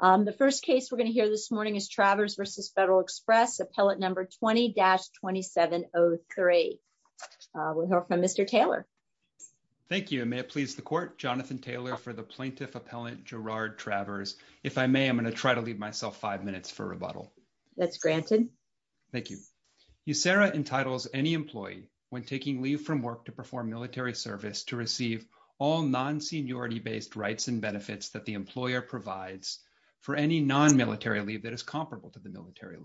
The first case we're going to hear this morning is Travers v. Fed Ex Corp. We'll hear from Mr. Taylor. Thank you and may it please the court Jonathan Taylor for the plaintiff appellant Gerard Travers. If I may, I'm going to try to leave myself five minutes for rebuttal. That's granted. Thank you. You Sarah entitles any employee when taking leave from work to perform military service to receive all non seniority based rights and benefits that the employer provides for any non military leave that is comparable to the military.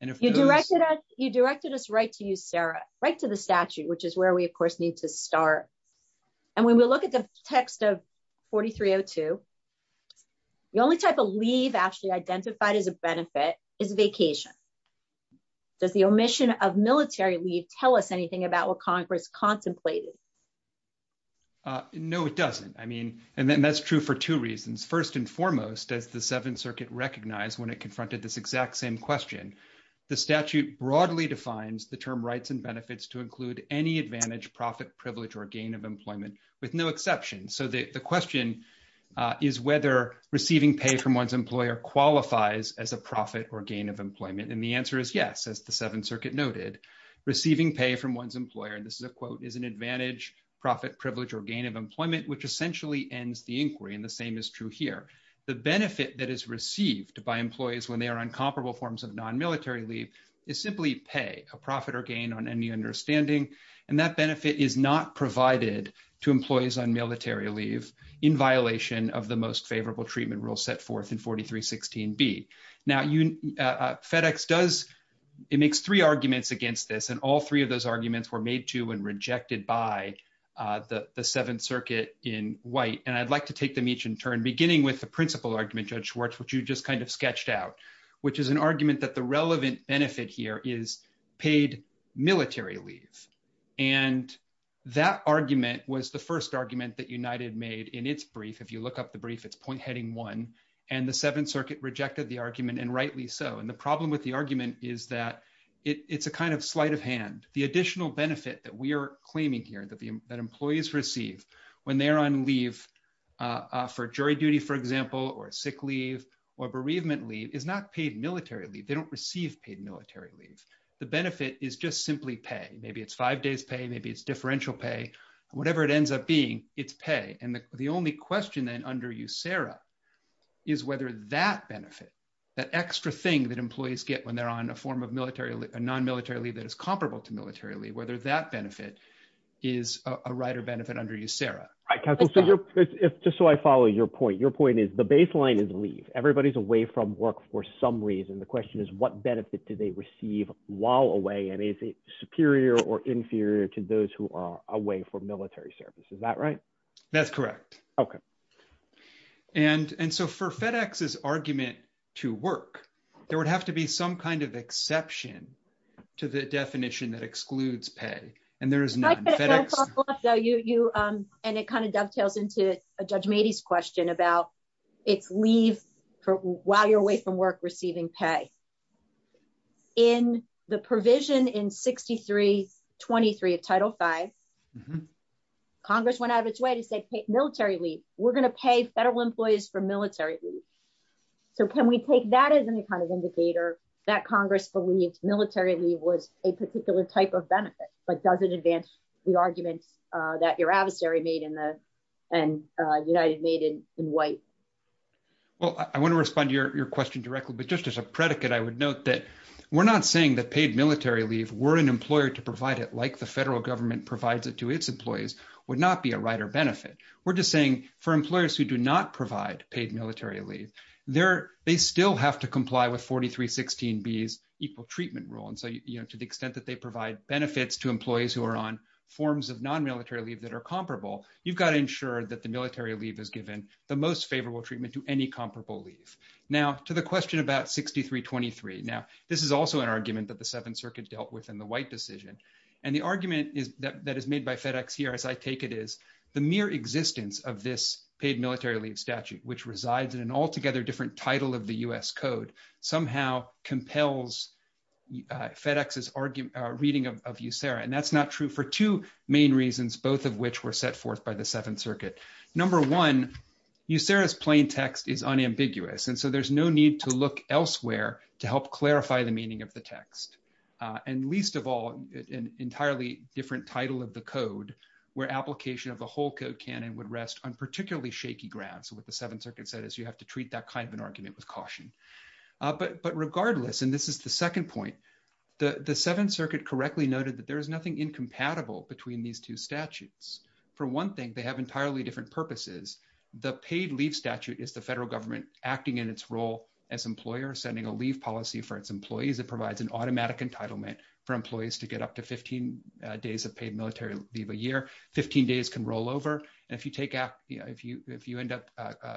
And if you directed you directed us right to you Sarah, right to the statute which is where we of course need to start. And when we look at the text of 4302. The only type of leave actually identified as a benefit is vacation. Does the omission of military leave tell us anything about what Congress contemplated. No, it doesn't. I mean, and then that's true for two reasons. First and foremost, as the Seventh Circuit recognize when it confronted this exact same question. The statute broadly defines the term rights and benefits to include any advantage profit privilege or gain of employment, with no exception so that the question is whether receiving pay from one's employer qualifies as a profit or gain of employment and the answer is yes as the Seventh Circuit noted receiving pay from one's employer and this is a quote is an advantage profit privilege or gain of employment which essentially ends the inquiry and the same is true here. The benefit that is received by employees when they are on comparable forms of non military leave is simply pay a profit or gain on any understanding, and that benefit is not provided to employees on military leave in violation of the most favorable treatment And I'd like to take them each in turn beginning with the principal argument judge Schwartz what you just kind of sketched out, which is an argument that the relevant benefit here is paid military leave. And that argument was the first argument that United made in its brief if you look up the brief it's point heading one, and the Seventh Circuit rejected the argument and rightly so and the problem with the argument is that it's a kind of sleight of hand, the When they're on leave for jury duty, for example, or sick leave or bereavement leave is not paid militarily they don't receive paid military leave the benefit is just simply pay maybe it's five days pay maybe it's differential pay, whatever it ends up being it's pay And the only question then under you Sarah, is whether that benefit that extra thing that employees get when they're on a form of military non military leave that is comparable to militarily whether that benefit is a writer benefit under you Sarah. If just so I follow your point your point is the baseline is leave everybody's away from work for some reason the question is what benefit do they receive while away and is it superior or inferior to those who are away for military service is that right. That's correct. Okay. And and so for FedEx is argument to work, there would have to be some kind of exception to the definition that excludes pay, and there is no You, you, and it kind of dovetails into a judge matey's question about its leave for while you're away from work receiving pay in the provision in 6323 of title five. Congress went out of its way to say military leave, we're going to pay federal employees for military. So can we take that as any kind of indicator that Congress believed militarily was a particular type of benefit, but doesn't advance the arguments that your adversary made in the United made in white. Well, I want to respond to your question directly but just as a predicate I would note that we're not saying that paid military leave were an employer to provide it like the federal government provides it to its employees would not be a writer benefit. We're just saying for employers who do not provide paid military leave there, they still have to comply with 4316 bs equal treatment rule and so you know to the extent that they provide benefits to employees who are on forms of non military leave that are comparable. You've got to ensure that the military leave is given the most favorable treatment to any comparable leave. Now, to the question about 6323. Now, this is also an argument that the Seventh Circuit dealt with in the white decision. And the argument is that that is made by FedEx here as I take it is the mere existence of this paid military leave statute which resides in an altogether different title of the US code somehow compels FedEx is arguing reading of you Sarah and that's not true for two main reasons, both of which were set forth by the Seventh Circuit. Number one, you Sarah's plain text is unambiguous and so there's no need to look elsewhere to help clarify the meaning of the text, and least of all, an entirely different title of the code where application of the whole code can and would rest on particularly shaky ground so with the Seventh Circuit correctly noted that there is nothing incompatible between these two statutes. For one thing, they have entirely different purposes, the paid leave statute is the federal government, acting in its role as employer sending a leave policy for its employees that provides an automatic entitlement for employees to get up to 15 days of paid military leave a year 15 days can roll over. And if you take out if you if you end up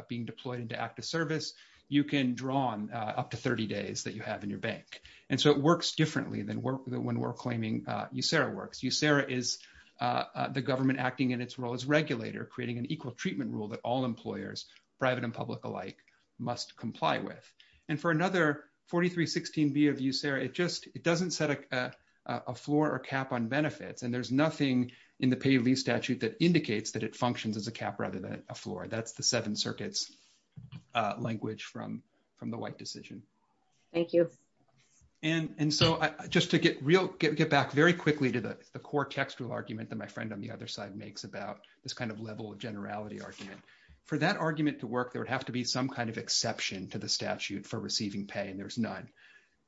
being deployed into active service, you can draw on up to 30 days that you have in your bank. And so it works differently than when we're claiming you Sarah works you Sarah is the government acting in its role as regulator creating an equal treatment rule that all employers, private and public alike, must comply with. And for another 4316 B of you Sarah it just, it doesn't set a floor or cap on benefits and there's nothing in the pay leave statute that indicates that it functions as a cap rather than a floor that's the Seventh Circuit's language from from the white decision. Thank you. And so, just to get real get get back very quickly to the core textual argument that my friend on the other side makes about this kind of level of generality argument for that argument to work, there would have to be some kind of exception to the statute for receiving pay and there's none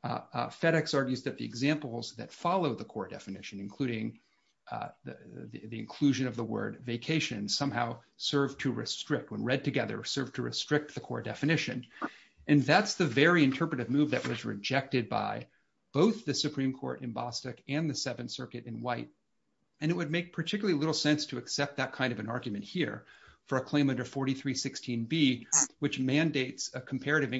FedEx argues that the examples that follow the core definition, including the inclusion of the word vacation somehow serve to restrict when read together serve to restrict the core definition. And that's the very interpretive move that was rejected by both the Supreme Court in Boston, and the Seventh Circuit in white, and it would make particularly little sense to accept that kind of an argument here for a claim under 4316 B, which mandates a comparative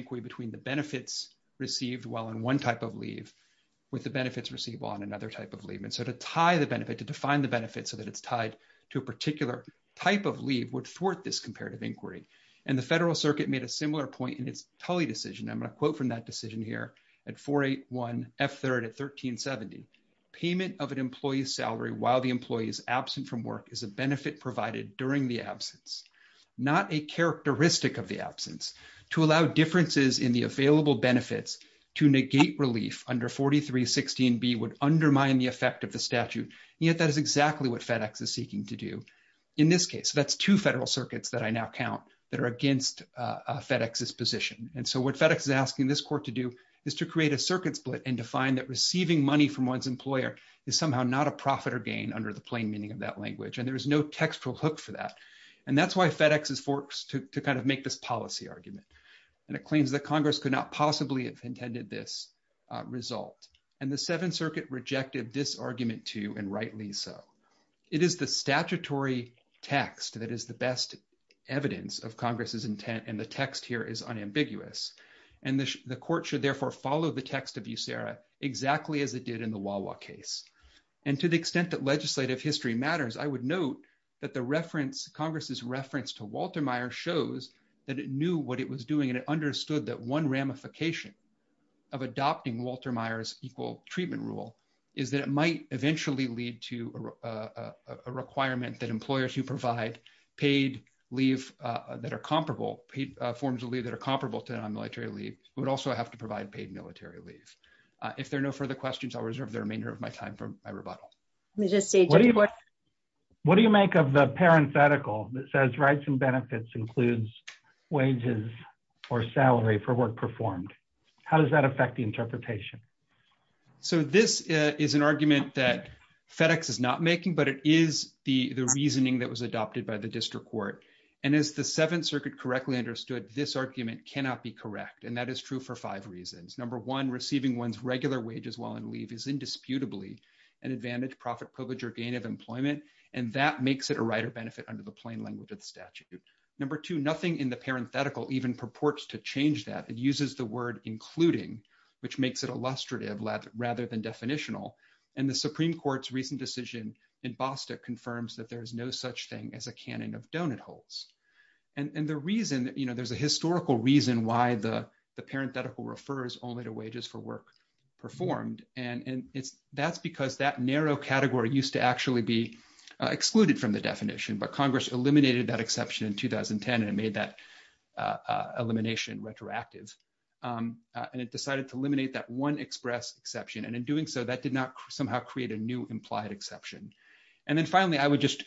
And the Federal Circuit made a similar point in its Tully decision I'm going to quote from that decision here at 481 F third at 1370 payment of an employee's salary while the employees absent from work is a benefit provided during the absence, not a characteristic of the absence to allow differences in the available benefits to negate relief under 4316 be would undermine the effect of the statute, yet that is exactly what FedEx is seeking to do. In this case, that's two federal circuits that I now count that are against FedEx this position. And so what FedEx is asking this court to do is to create a circuit split and define that receiving money from one's employer is somehow not a profit or gain under the plain meaning of that language and there is no textual hook for that. And that's why FedEx is forks to kind of make this policy argument. And it claims that Congress could not possibly have intended this result, and the Seventh Circuit rejected this argument to and rightly so. It is the statutory text that is the best evidence of Congress's intent and the text here is unambiguous, and the court should therefore follow the text of you, Sarah, exactly as it did in the wall walk case. And to the extent that legislative history matters I would note that the reference Congress's reference to Walter Meyer shows that it knew what it was doing and it understood that one ramification of adopting Walter Myers equal treatment rule is that it might eventually lead to a requirement that employers who provide paid leave that are comparable forms of leave that are comparable to non-military leave would also have to provide paid military leave. If there are no further questions, I'll reserve the remainder of my time for my rebuttal. What do you make of the parenthetical that says rights and benefits includes wages or salary for work performed? How does that affect the interpretation? So this is an argument that FedEx is not making, but it is the reasoning that was adopted by the district court. And as the Seventh Circuit correctly understood, this argument cannot be correct, and that is true for five reasons. Number one, receiving one's regular wages while on leave is indisputably an advantage, profit, privilege, or gain of employment, and that makes it a right or benefit under the plain language of the statute. Number two, nothing in the parenthetical even purports to change that. It uses the word including, which makes it illustrative rather than definitional. And the Supreme Court's recent decision in Bostock confirms that there is no such thing as a canon of donut holes. And the reason, you know, there's a historical reason why the parenthetical refers only to wages for work performed, and that's because that narrow category used to actually be excluded from the definition, but Congress eliminated that exception in 2010 and made that elimination retroactive. And it decided to eliminate that one express exception, and in doing so, that did not somehow create a new implied exception. And then finally, I would just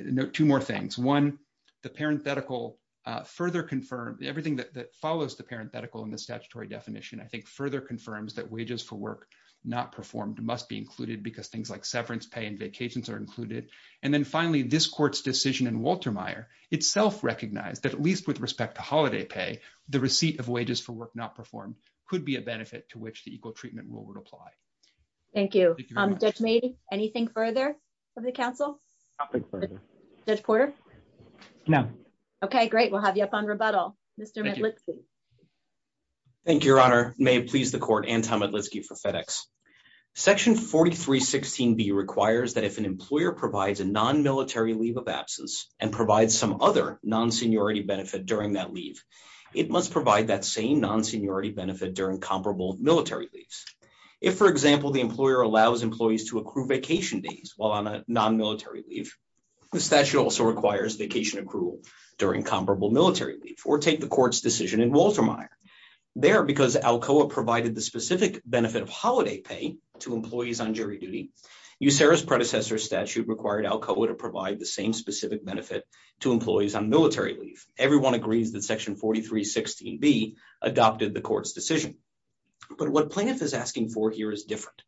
note two more things. One, the parenthetical further confirmed everything that follows the parenthetical in the statutory definition, I think, further confirms that wages for work not performed must be included because things like severance pay and vacations are included. And then finally, this court's decision in Walter Meyer itself recognized that at least with respect to holiday pay, the receipt of wages for work not performed could be a benefit to which the equal treatment rule would apply. Thank you. Judge May, anything further from the council? Nothing further. Judge Porter? No. Okay, great. We'll have you up on rebuttal. Mr. Medlitsky. Thank you, Your Honor. May it please the court, Anton Medlitsky for FedEx. Section 4316B requires that if an employer provides a non-military leave of absence and provides some other non-seniority benefit during that leave, it must provide that same non-seniority benefit during comparable military leaves. If, for example, the employer allows employees to accrue vacation days while on a non-military leave, the statute also requires vacation accrual during comparable military leave or take the court's decision in Walter Meyer. There, because ALCOA provided the specific benefit of holiday pay to employees on jury duty, USERRA's predecessor statute required ALCOA to provide the same specific benefit to employees on military leave. Everyone agrees that Section 4316B adopted the court's decision. But what plaintiff is asking for here is different.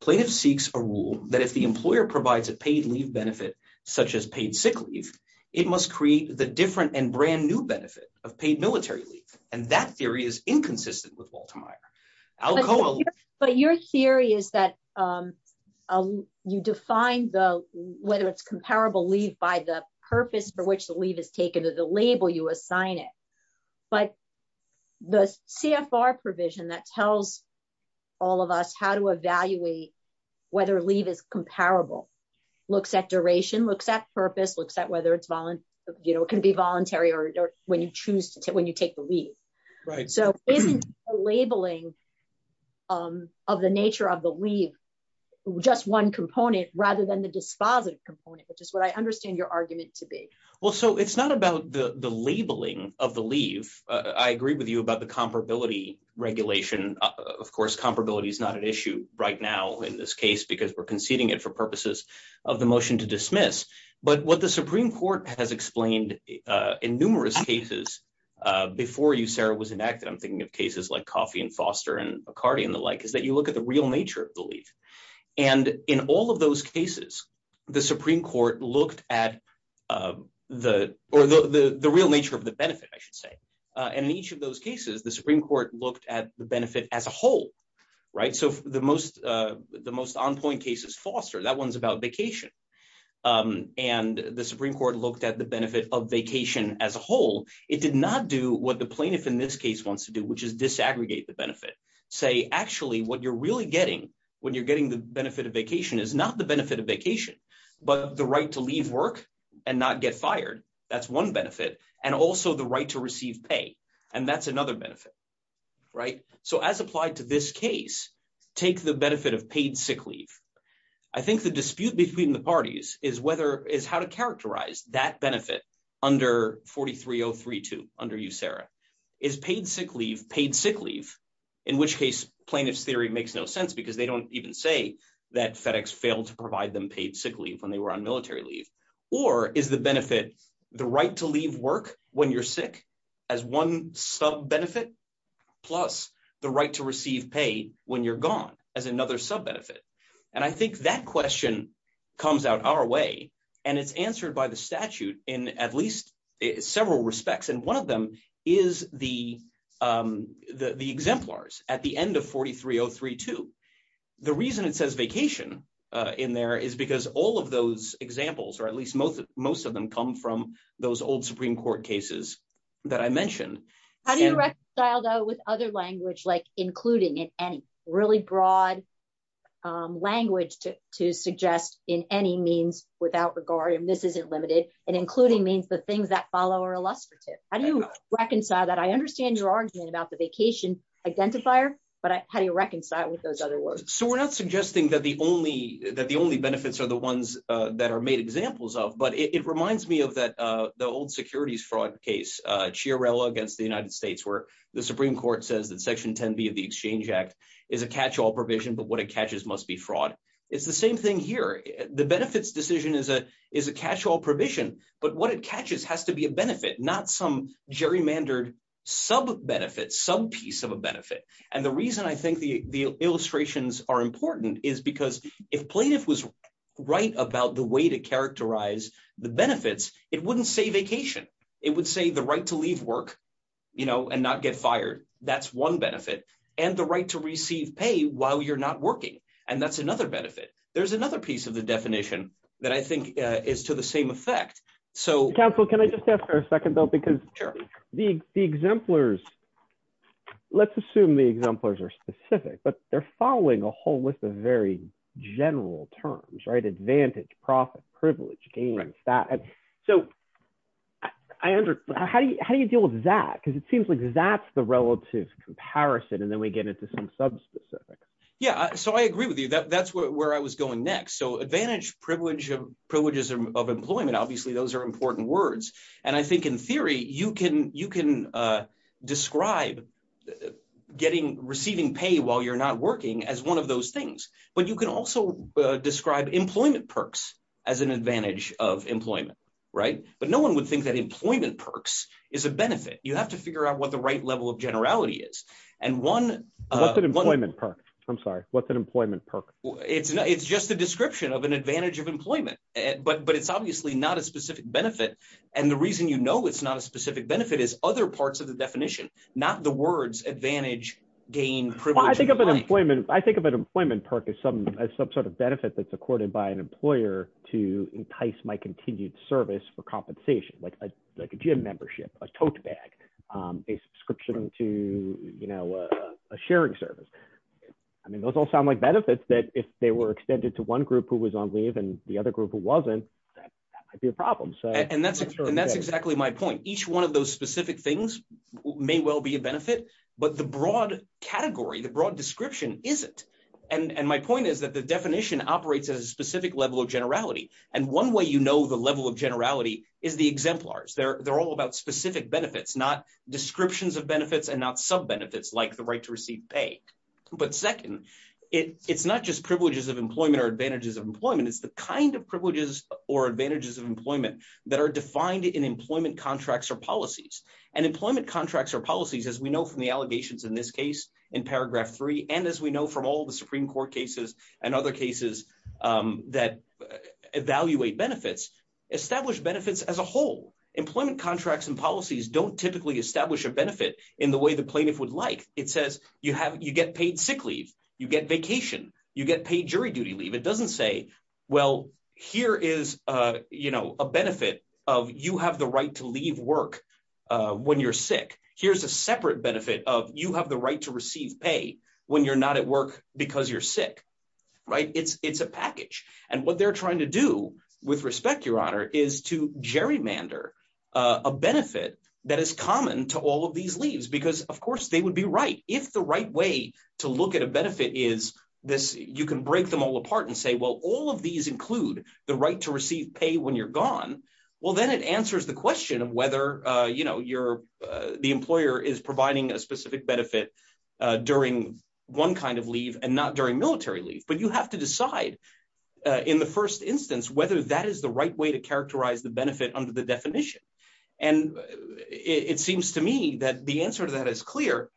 Plaintiff seeks a rule that if the employer provides a paid leave benefit, such as paid sick leave, it must create the different and brand new benefit of paid military leave, and that theory is inconsistent with Walter Meyer. But your theory is that you define whether it's comparable leave by the purpose for which the leave is taken or the label you assign it. But the CFR provision that tells all of us how to evaluate whether leave is comparable looks at duration, looks at purpose, looks at whether it can be voluntary or when you take the leave. So isn't the labeling of the nature of the leave just one component rather than the dispositive component, which is what I understand your argument to be. Well, so it's not about the labeling of the leave. I agree with you about the comparability regulation. Of course, comparability is not an issue right now in this case because we're conceding it for purposes of the motion to dismiss. But what the Supreme Court has explained in numerous cases before you, Sarah, was enacted, I'm thinking of cases like Coffey and Foster and McCarty and the like, is that you look at the real nature of the leave. And in all of those cases, the Supreme Court looked at the real nature of the benefit, I should say. And in each of those cases, the Supreme Court looked at the benefit as a whole, right? So the most on-point cases, Foster, that one's about vacation, and the Supreme Court looked at the benefit of vacation as a whole. It did not do what the plaintiff in this case wants to do, which is disaggregate the benefit, say, actually, what you're really getting when you're getting the benefit of vacation is not the benefit of vacation, but the right to leave work and not get fired. That's one benefit, and also the right to receive pay. And that's another benefit, right? So as applied to this case, take the benefit of paid sick leave. I think the dispute between the parties is how to characterize that benefit under 43032, under you, Sarah. Is paid sick leave paid sick leave, in which case plaintiff's theory makes no sense because they don't even say that FedEx failed to provide them paid sick leave when they were on military leave? Or is the benefit the right to leave work when you're sick as one sub-benefit plus the right to receive pay when you're gone as another sub-benefit? And I think that question comes out our way, and it's answered by the statute in at least several respects, and one of them is the exemplars at the end of 43032. The reason it says vacation in there is because all of those examples, or at least most of them, come from those old Supreme Court cases that I mentioned. How do you reconcile, though, with other language like including in any? Really broad language to suggest in any means without regard, and this isn't limited, and including means the things that follow are illustrative. How do you reconcile that? I understand your argument about the vacation identifier, but how do you reconcile it with those other words? So we're not suggesting that the only benefits are the ones that are made examples of, but it reminds me of the old securities fraud case, Chiarella against the United States, where the Supreme Court says that Section 10B of the Exchange Act is a catch-all provision, but what it catches must be fraud. It's the same thing here. The benefits decision is a catch-all provision, but what it catches has to be a benefit, not some gerrymandered sub-benefit, sub-piece of a benefit. And the reason I think the illustrations are important is because if plaintiff was right about the way to characterize the benefits, it wouldn't say vacation. It would say the right to leave work and not get fired. That's one benefit, and the right to receive pay while you're not working, and that's another benefit. There's another piece of the definition that I think is to the same effect. Counsel, can I just ask for a second, though, because the exemplars – let's assume the exemplars are specific, but they're following a whole list of very general terms – advantage, profit, privilege, gains, that. So how do you deal with that? Because it seems like that's the relative comparison, and then we get into some subspecifics. Yeah, so I agree with you. That's where I was going next. So advantage, privileges of employment, obviously those are important words. And I think in theory you can describe receiving pay while you're not working as one of those things, but you can also describe employment perks as an advantage of employment, right? But no one would think that employment perks is a benefit. You have to figure out what the right level of generality is. What's an employment perk? I'm sorry. What's an employment perk? It's just a description of an advantage of employment, but it's obviously not a specific benefit. And the reason you know it's not a specific benefit is other parts of the definition, not the words advantage, gain, privilege. I think of an employment perk as some sort of benefit that's accorded by an employer to entice my continued service for compensation, like a gym membership, a tote bag, a subscription to a sharing service. I mean those all sound like benefits that if they were extended to one group who was on leave and the other group who wasn't, that might be a problem. And that's exactly my point. Each one of those specific things may well be a benefit, but the broad category, the broad description isn't. And my point is that the definition operates at a specific level of generality. And one way you know the level of generality is the exemplars. They're all about specific benefits, not descriptions of benefits and not sub-benefits like the right to receive pay. But second, it's not just privileges of employment or advantages of employment, it's the kind of privileges or advantages of employment that are defined in employment contracts or policies. And employment contracts or policies, as we know from the allegations in this case, in paragraph three, and as we know from all the Supreme Court cases and other cases that evaluate benefits, establish benefits as a whole. Employment contracts and policies don't typically establish a benefit in the way the plaintiff would like. It says you get paid sick leave, you get vacation, you get paid jury duty leave. It doesn't say, well, here is a benefit of you have the right to leave work when you're sick. Here's a separate benefit of you have the right to receive pay when you're not at work because you're sick. It's a package. And what they're trying to do with respect, Your Honor, is to gerrymander a benefit that is common to all of these leaves because, of course, they would be right. If the right way to look at a benefit is this, you can break them all apart and say, well, all of these include the right to receive pay when you're gone. Well, then it answers the question of whether the employer is providing a specific benefit during one kind of leave and not during military leave. But you have to decide in the first instance whether that is the right way to characterize the benefit under the definition. And it seems to me that the answer to that is clear,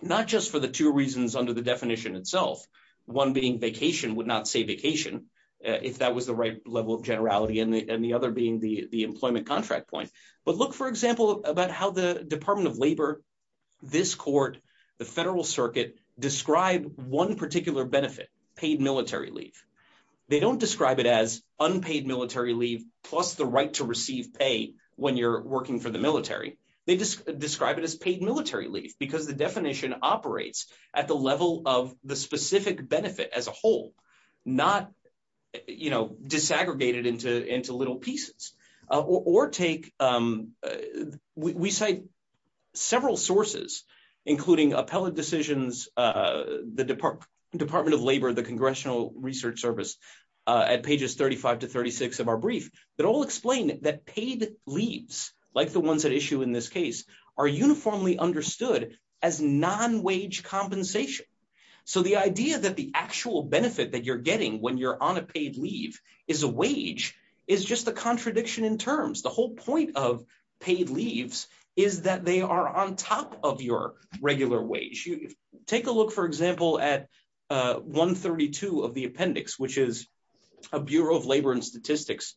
not just for the two reasons under the definition itself, one being vacation would not say vacation if that was the right level of generality and the other being the employment contract point. But look, for example, about how the Department of Labor, this court, the Federal Circuit describe one particular benefit paid military leave. They don't describe it as unpaid military leave, plus the right to receive pay when you're working for the military, they just describe it as paid military leave because the definition operates at the level of the specific benefit as a whole, not, you know, disaggregated into little pieces or take, we cite several sources, including appellate decisions, the Department of Labor, the Congressional Research Service at pages 35 to 36 of our brief that all explain that paid leaves, like the ones that issue in this case, are uniformly understood as non-wage compensation. So the idea that the actual benefit that you're getting when you're on a paid leave is a wage is just a contradiction in terms. The whole point of paid leaves is that they are on top of your regular wage. Take a look, for example, at 132 of the appendix, which is a Bureau of Labor and Statistics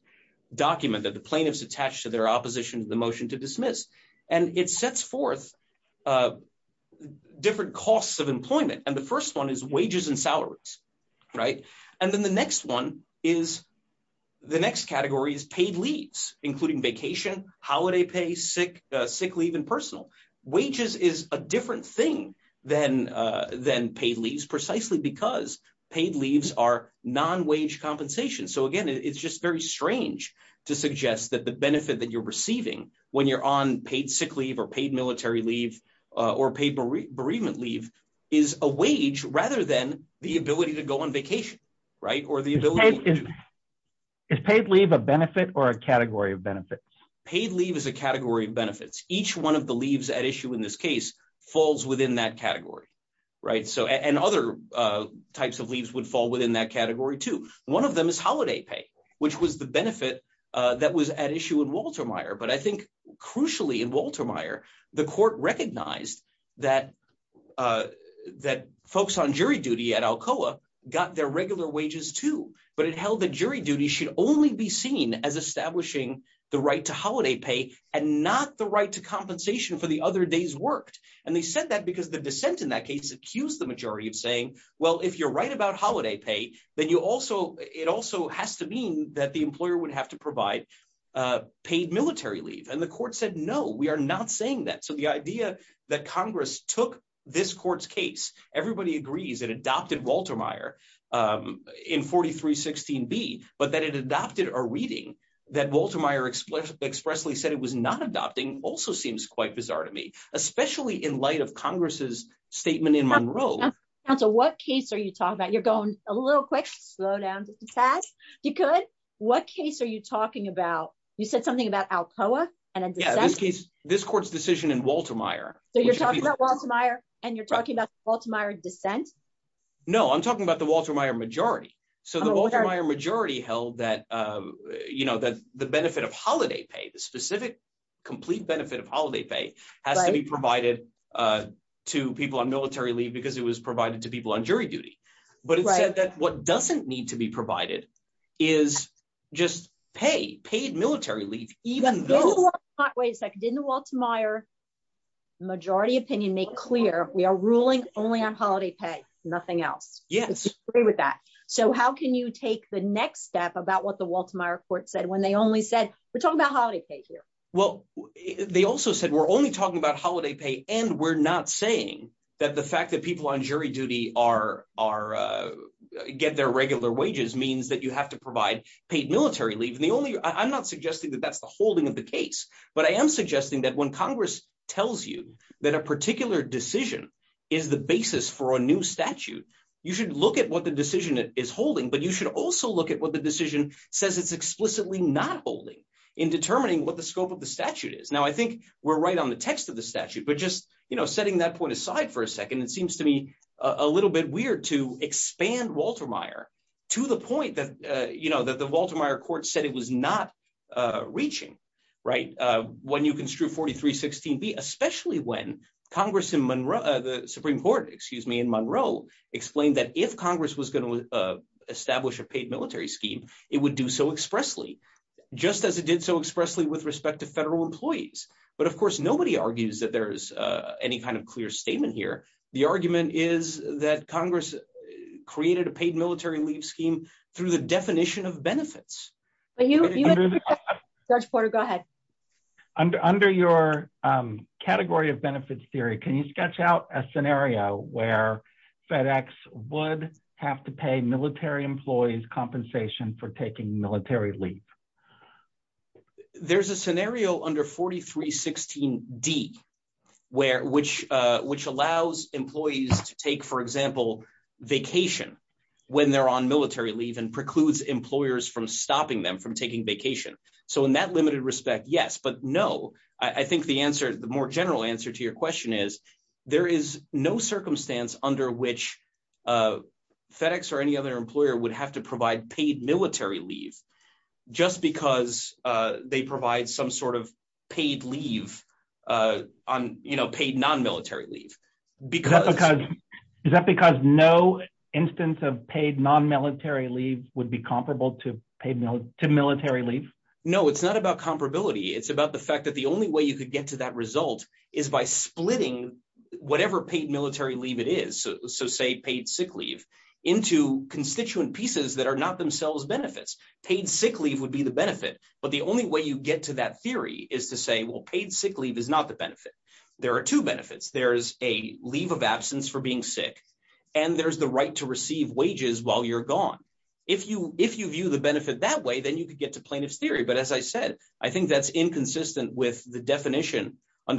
document that the plaintiffs attached to their opposition to the motion to dismiss, and it sets forth different costs of employment. And the first one is wages and salaries. Right. And then the next one is the next category is paid leaves, including vacation, holiday pay, sick, sick leave and personal wages is a different thing than, than paid leaves precisely because paid leaves are non-wage compensation. So again, it's just very strange to suggest that the benefit that you're receiving when you're on paid sick leave or paid military leave or paid bereavement leave is a wage rather than the ability to go on vacation. Right. Or the ability. Is paid leave a benefit or a category of benefits? Paid leave is a category of benefits. Each one of the leaves at issue in this case falls within that category. Right. So, and other types of leaves would fall within that category to one of them is holiday pay, which was the benefit that was at issue in Walter Meyer, but I think crucially in Walter Meyer, the court recognized that that folks on jury duty at Alcoa got their regular wages too, but it held the jury duty should only be seen as establishing the right to holiday pay, and not the right to compensation for the other days worked. And they said that because the dissent in that case accused the majority of saying, well if you're right about holiday pay, then you also, it also has to mean that the employer would have to provide paid military leave and the court said no we are not saying that so the idea that Congress took this court's case, everybody agrees that adopted Walter Meyer in 4316 be, but that it adopted or reading that Walter Meyer express expressly said it was not adopting also seems quite bizarre to me, especially in light of Congress's statement in Monroe. And so what case are you talking about you're going a little quick slow down. You could. What case are you talking about, you said something about Alcoa, and in this case, this court's decision in Walter Meyer, so you're talking about Walter Meyer, and you're talking about Walter Meyer dissent. No, I'm talking about the Walter Meyer majority. So the majority held that you know that the benefit of holiday pay the specific complete benefit of holiday pay has to be provided to people on military leave because it was provided to people on jury duty, but it said that what doesn't need to be provided is just pay paid military leave, even though, wait a second in the Walter Meyer majority opinion make clear we are ruling only on holiday pay, nothing else. Yes, agree with that. So how can you take the next step about what the Walter Meyer court said when they only said, we're talking about holiday pay here. Well, they also said we're only talking about holiday pay, and we're not saying that the fact that people on jury duty are are get their regular wages means that you have to provide paid military leave and the only I'm not suggesting that that's the holding of the case, but I am suggesting that when Congress tells you that a particular decision is the basis for a new statute, you should look at what the decision is holding but you should also look at what the decision says it's explicitly not holding in determining what the scope of the statute is now I think we're right on the text of the statute but just, you know, setting that point aside for a second it seems to me a little bit weird to expand Walter Meyer, to the point that you know that the Walter Meyer court said it was not reaching. Right. When you can screw 4316 be especially when Congress in Monroe, the Supreme Court, excuse me in Monroe explained that if Congress was going to establish a paid military scheme, it would do so expressly, just as it did so expressly with respect to federal employees, but of course nobody argues that there's any kind of clear statement here. The argument is that Congress created a paid military leave scheme through the definition of benefits, but you under 4316 D, where which, which allows employees to take for example, vacation. When they're on military leave and precludes employers from stopping them from taking vacation. So in that limited respect yes but no, I think the answer the more general answer to your question is, there is no circumstance under which FedEx or any other employer would have to provide paid military leave, just because they provide some sort of paid leave on, you know, paid non military leave, because, because, is that because no instance of paid non military leave would be comparable to paid military leave. No, it's not about comparability it's about the fact that the only way you could get to that result is by splitting, whatever paid benefit. There are two benefits, there's a leave of absence for being sick. And there's the right to receive wages while you're gone. If you, if you view the benefit that way then you could get to plaintiff's theory but as I said, I think that's inconsistent with the I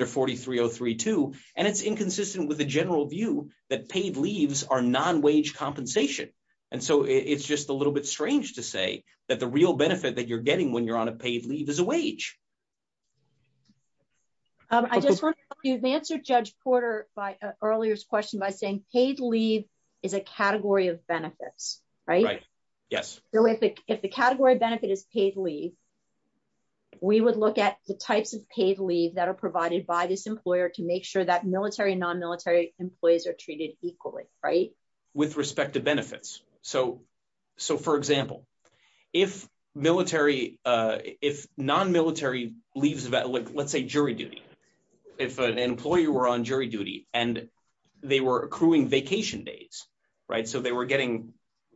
just want you to answer Judge Porter by earlier this question by saying paid leave is a category of benefits, right. Yes, if the category benefit is paid leave. We would look at the types of paid leave that are provided by this employer to make sure that military non military employees are treated equally right with respect to benefits. So, so for example, if military. If non military leaves about like let's say jury duty. If an employee were on jury duty, and they were accruing vacation days. Right, so they were getting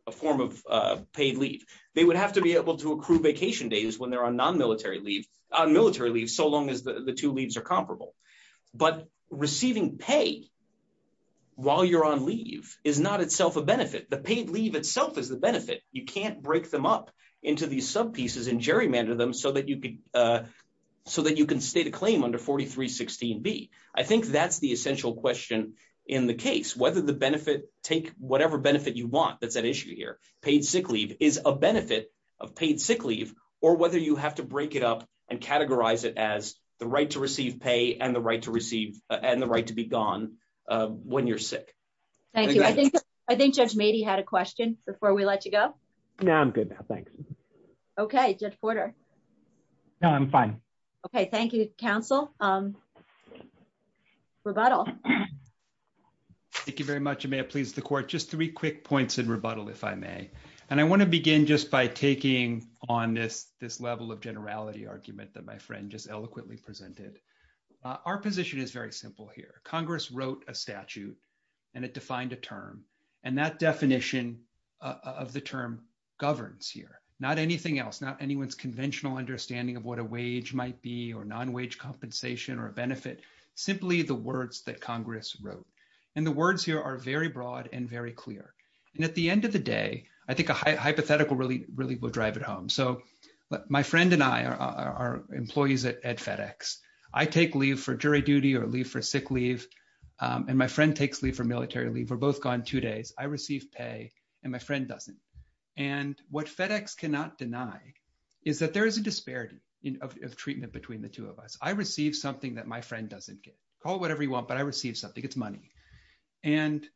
a form of paid leave, they would have to be able to accrue vacation days when they're on non military leave on military leave so long as the two leaves are comparable, but so that you can so that you can state a claim under 4316 be, I think that's the essential question in the case whether the benefit, take whatever benefit you want that's an issue here, paid sick leave is a benefit of paid sick leave, or whether you have to break it up and categorize it as the right to receive pay and the right to receive and the right to be gone. When you're sick. Thank you. I think, I think Judge made he had a question before we let you go. Now I'm good. Thanks. Okay, good quarter. I'm fine. Okay, thank you, counsel. Rebuttal. Thank you very much, you may have pleased the court just three quick points in rebuttal, if I may, and I want to begin just by taking on this, this level of generality argument that my friend just eloquently presented our position is very simple here, Congress wrote a statute, and it defined a term, and that definition of the term governs here, not anything else not anyone's conventional understanding of what a wage might be or non wage compensation or benefit, simply the words that Congress wrote, and the words here are very broad and very clear. And at the end of the day, I think a hypothetical really, really will drive it home so my friend and I are employees at FedEx, I take leave for jury duty or leave for sick leave, and my friend takes leave for military leave or both gone two days I receive pay, and my friend doesn't. And what FedEx cannot deny is that there is a disparity of treatment between the two of us, I received something that my friend doesn't get call whatever you want but I received something it's money. And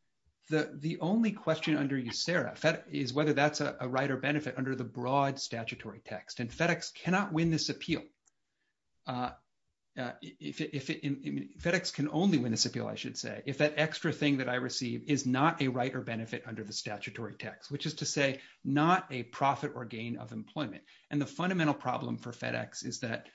the, the only question under you Sarah is whether that's a writer benefit under the broad statutory text and FedEx cannot win this appeal. If FedEx can only win this appeal I should say if that extra thing that I receive is not a writer benefit under the statutory text which is to say, not a profit or gain of employment, and the fundamental problem for FedEx is that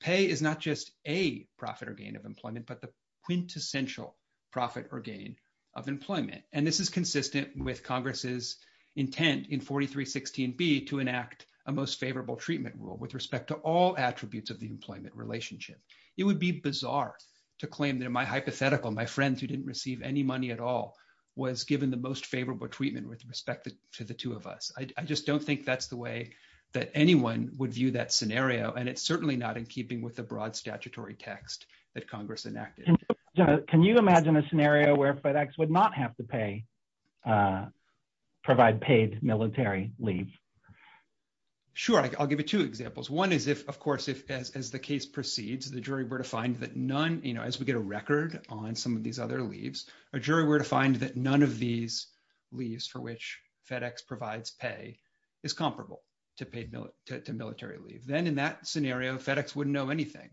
pay is not just a profit or gain of employment but the quintessential profit or gain of employment, and this is consistent with Congress's intent in 4316 be to enact a most favorable treatment rule with respect to all attributes of the employment relationship. It would be bizarre to claim that my hypothetical my friends who didn't receive any money at all was given the most favorable treatment with respect to the two of us. I just don't think that's the way that anyone would view that scenario and it's certainly not in keeping with the broad statutory text that Congress enacted. Can you imagine a scenario where FedEx would not have to pay provide paid military leave. Sure, I'll give you two examples. One is if, of course, if, as the case proceeds the jury were to find that none, you know, as we get a record on some of these other leaves a jury were to find that none of these leaves for which FedEx provides pay is comparable to military leave. Then in that scenario FedEx wouldn't know anything.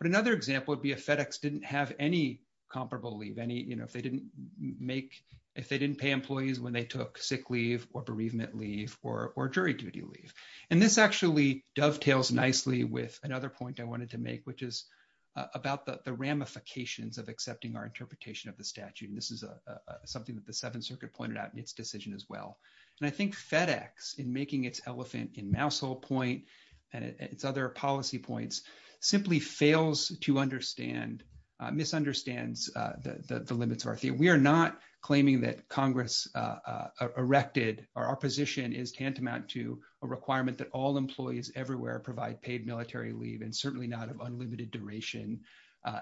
But another example would be a FedEx didn't have any comparable leave any you know if they didn't make if they didn't pay employees when they took sick leave or bereavement leave or jury duty leave. And this actually dovetails nicely with another point I wanted to make, which is about the ramifications of accepting our interpretation of the statute and this is something that the Seventh Circuit pointed out in its decision as well. And I think FedEx in making its elephant in mousehole point, and it's other policy points, simply fails to understand misunderstands the limits of our theory we are not claiming that Congress erected our position is tantamount to a requirement that all employees everywhere provide paid military leave and certainly not have unlimited duration,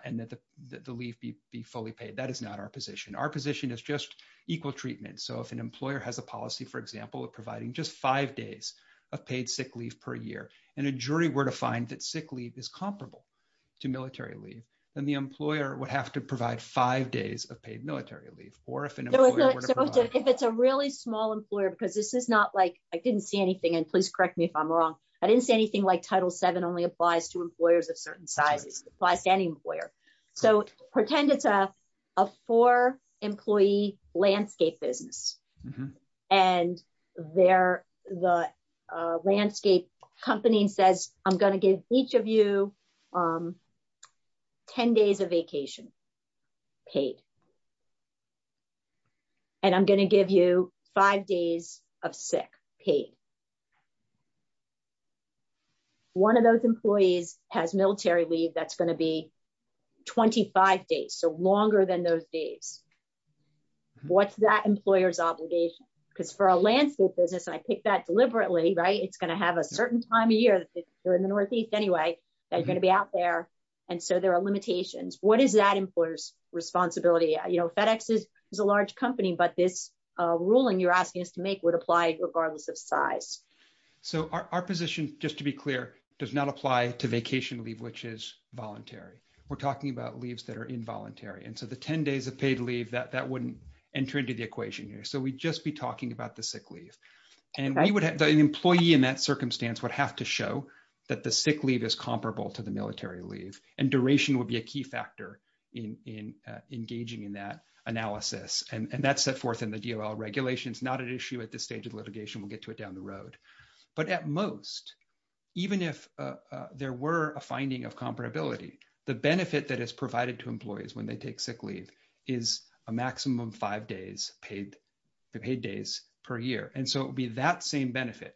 and that the, the leaf be fully paid that is not our position our position is just equal treatment so if an employer has a policy for example of providing just five days of paid sick leave per year, and a jury were to find that sick leave is comparable to military leave, then the employer would have to provide five days of paid military leave, or if it's a really small employer because this is not like, I didn't see anything and please correct me if I'm wrong. I didn't say anything like title seven only applies to employers of certain sizes apply standing where. So, pretend it's a for employee landscape business. And they're the landscape company says, I'm going to give each of you. 10 days of vacation paid. And I'm going to give you five days of sick paid. One of those employees has military leave that's going to be 25 days so longer than those days. What's that employers obligation, because for a landscape business I picked that deliberately right it's going to have a certain time of year during the Northeast anyway, that's going to be out there. And so there are limitations, what is that employers responsibility, you know FedEx is a large company but this ruling you're asking us to make would apply, regardless of size. So our position, just to be clear, does not apply to vacation leave which is voluntary. We're talking about leaves that are involuntary and so the 10 days of paid leave that that wouldn't enter into the equation here so we just be talking about the sick And we would have an employee in that circumstance would have to show that the sick leave is comparable to the military leave and duration would be a key factor in engaging in that analysis and that's set forth in the DLL regulations not an issue at this stage of litigation we'll get to it down the road. But at most, even if there were a finding of comparability, the benefit that is provided to employees when they take sick leave is a maximum five days paid paid days per year and so it would be that same benefit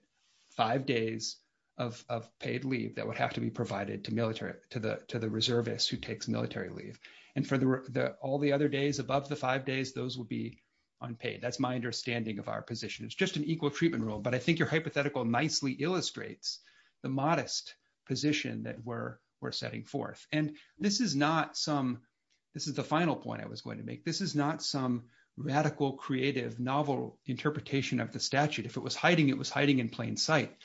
five days of paid leave that would have to be provided to military to the to the reservist who takes military leave and for the all the other days above the five days those will be unpaid that's my understanding of our position it's just an equal treatment rule but I think your hypothetical nicely illustrates the modest position that we're, we're setting forth, and this is not some. This is the final point I was going to make this is not some radical creative novel interpretation of the statute if it was hiding it was hiding in plain sight.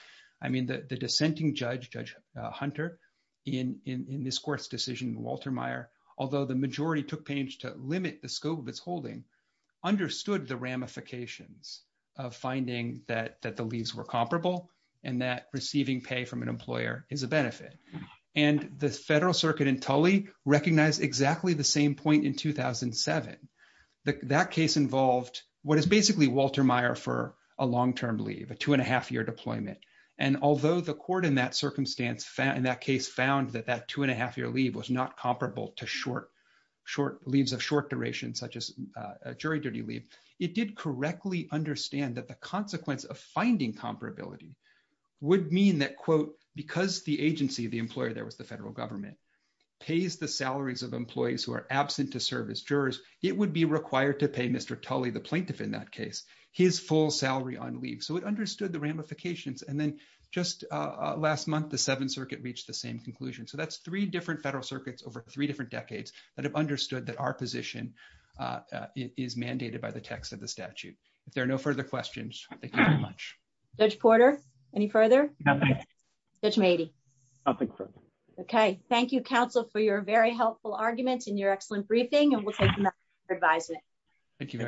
I mean the dissenting judge, Judge Hunter, in this court's decision Walter Meyer, although the majority took pains to limit the scope of its holding understood the ramifications of finding that that the leaves were comparable, and that receiving pay from an employer is a benefit, and the Federal Circuit in Tully recognize exactly the same point in 2007, that case involved, what is basically Walter Meyer for a long term leave a two and a half year deployment. And although the court in that circumstance found that case found that that two and a half year leave was not comparable to short, short leaves of short duration such as jury duty leave. It did correctly understand that the consequence of finding comparability would mean that quote, because the agency the employer there was the federal government pays the salaries of employees who are absent to serve as jurors, it would be required to pay Mr Tully the plaintiff in that case, his full salary on leave so it understood the ramifications and then just last month the Seventh Circuit reached the same conclusion so that's three different federal circuits over three different decades that have understood that our position is mandated by the text of the statute. If there are no further questions. Thank you very much. Judge Porter. Any further. Maybe. Okay, thank you counsel for your very helpful arguments and your excellent briefing and we'll take your advice. Thank you.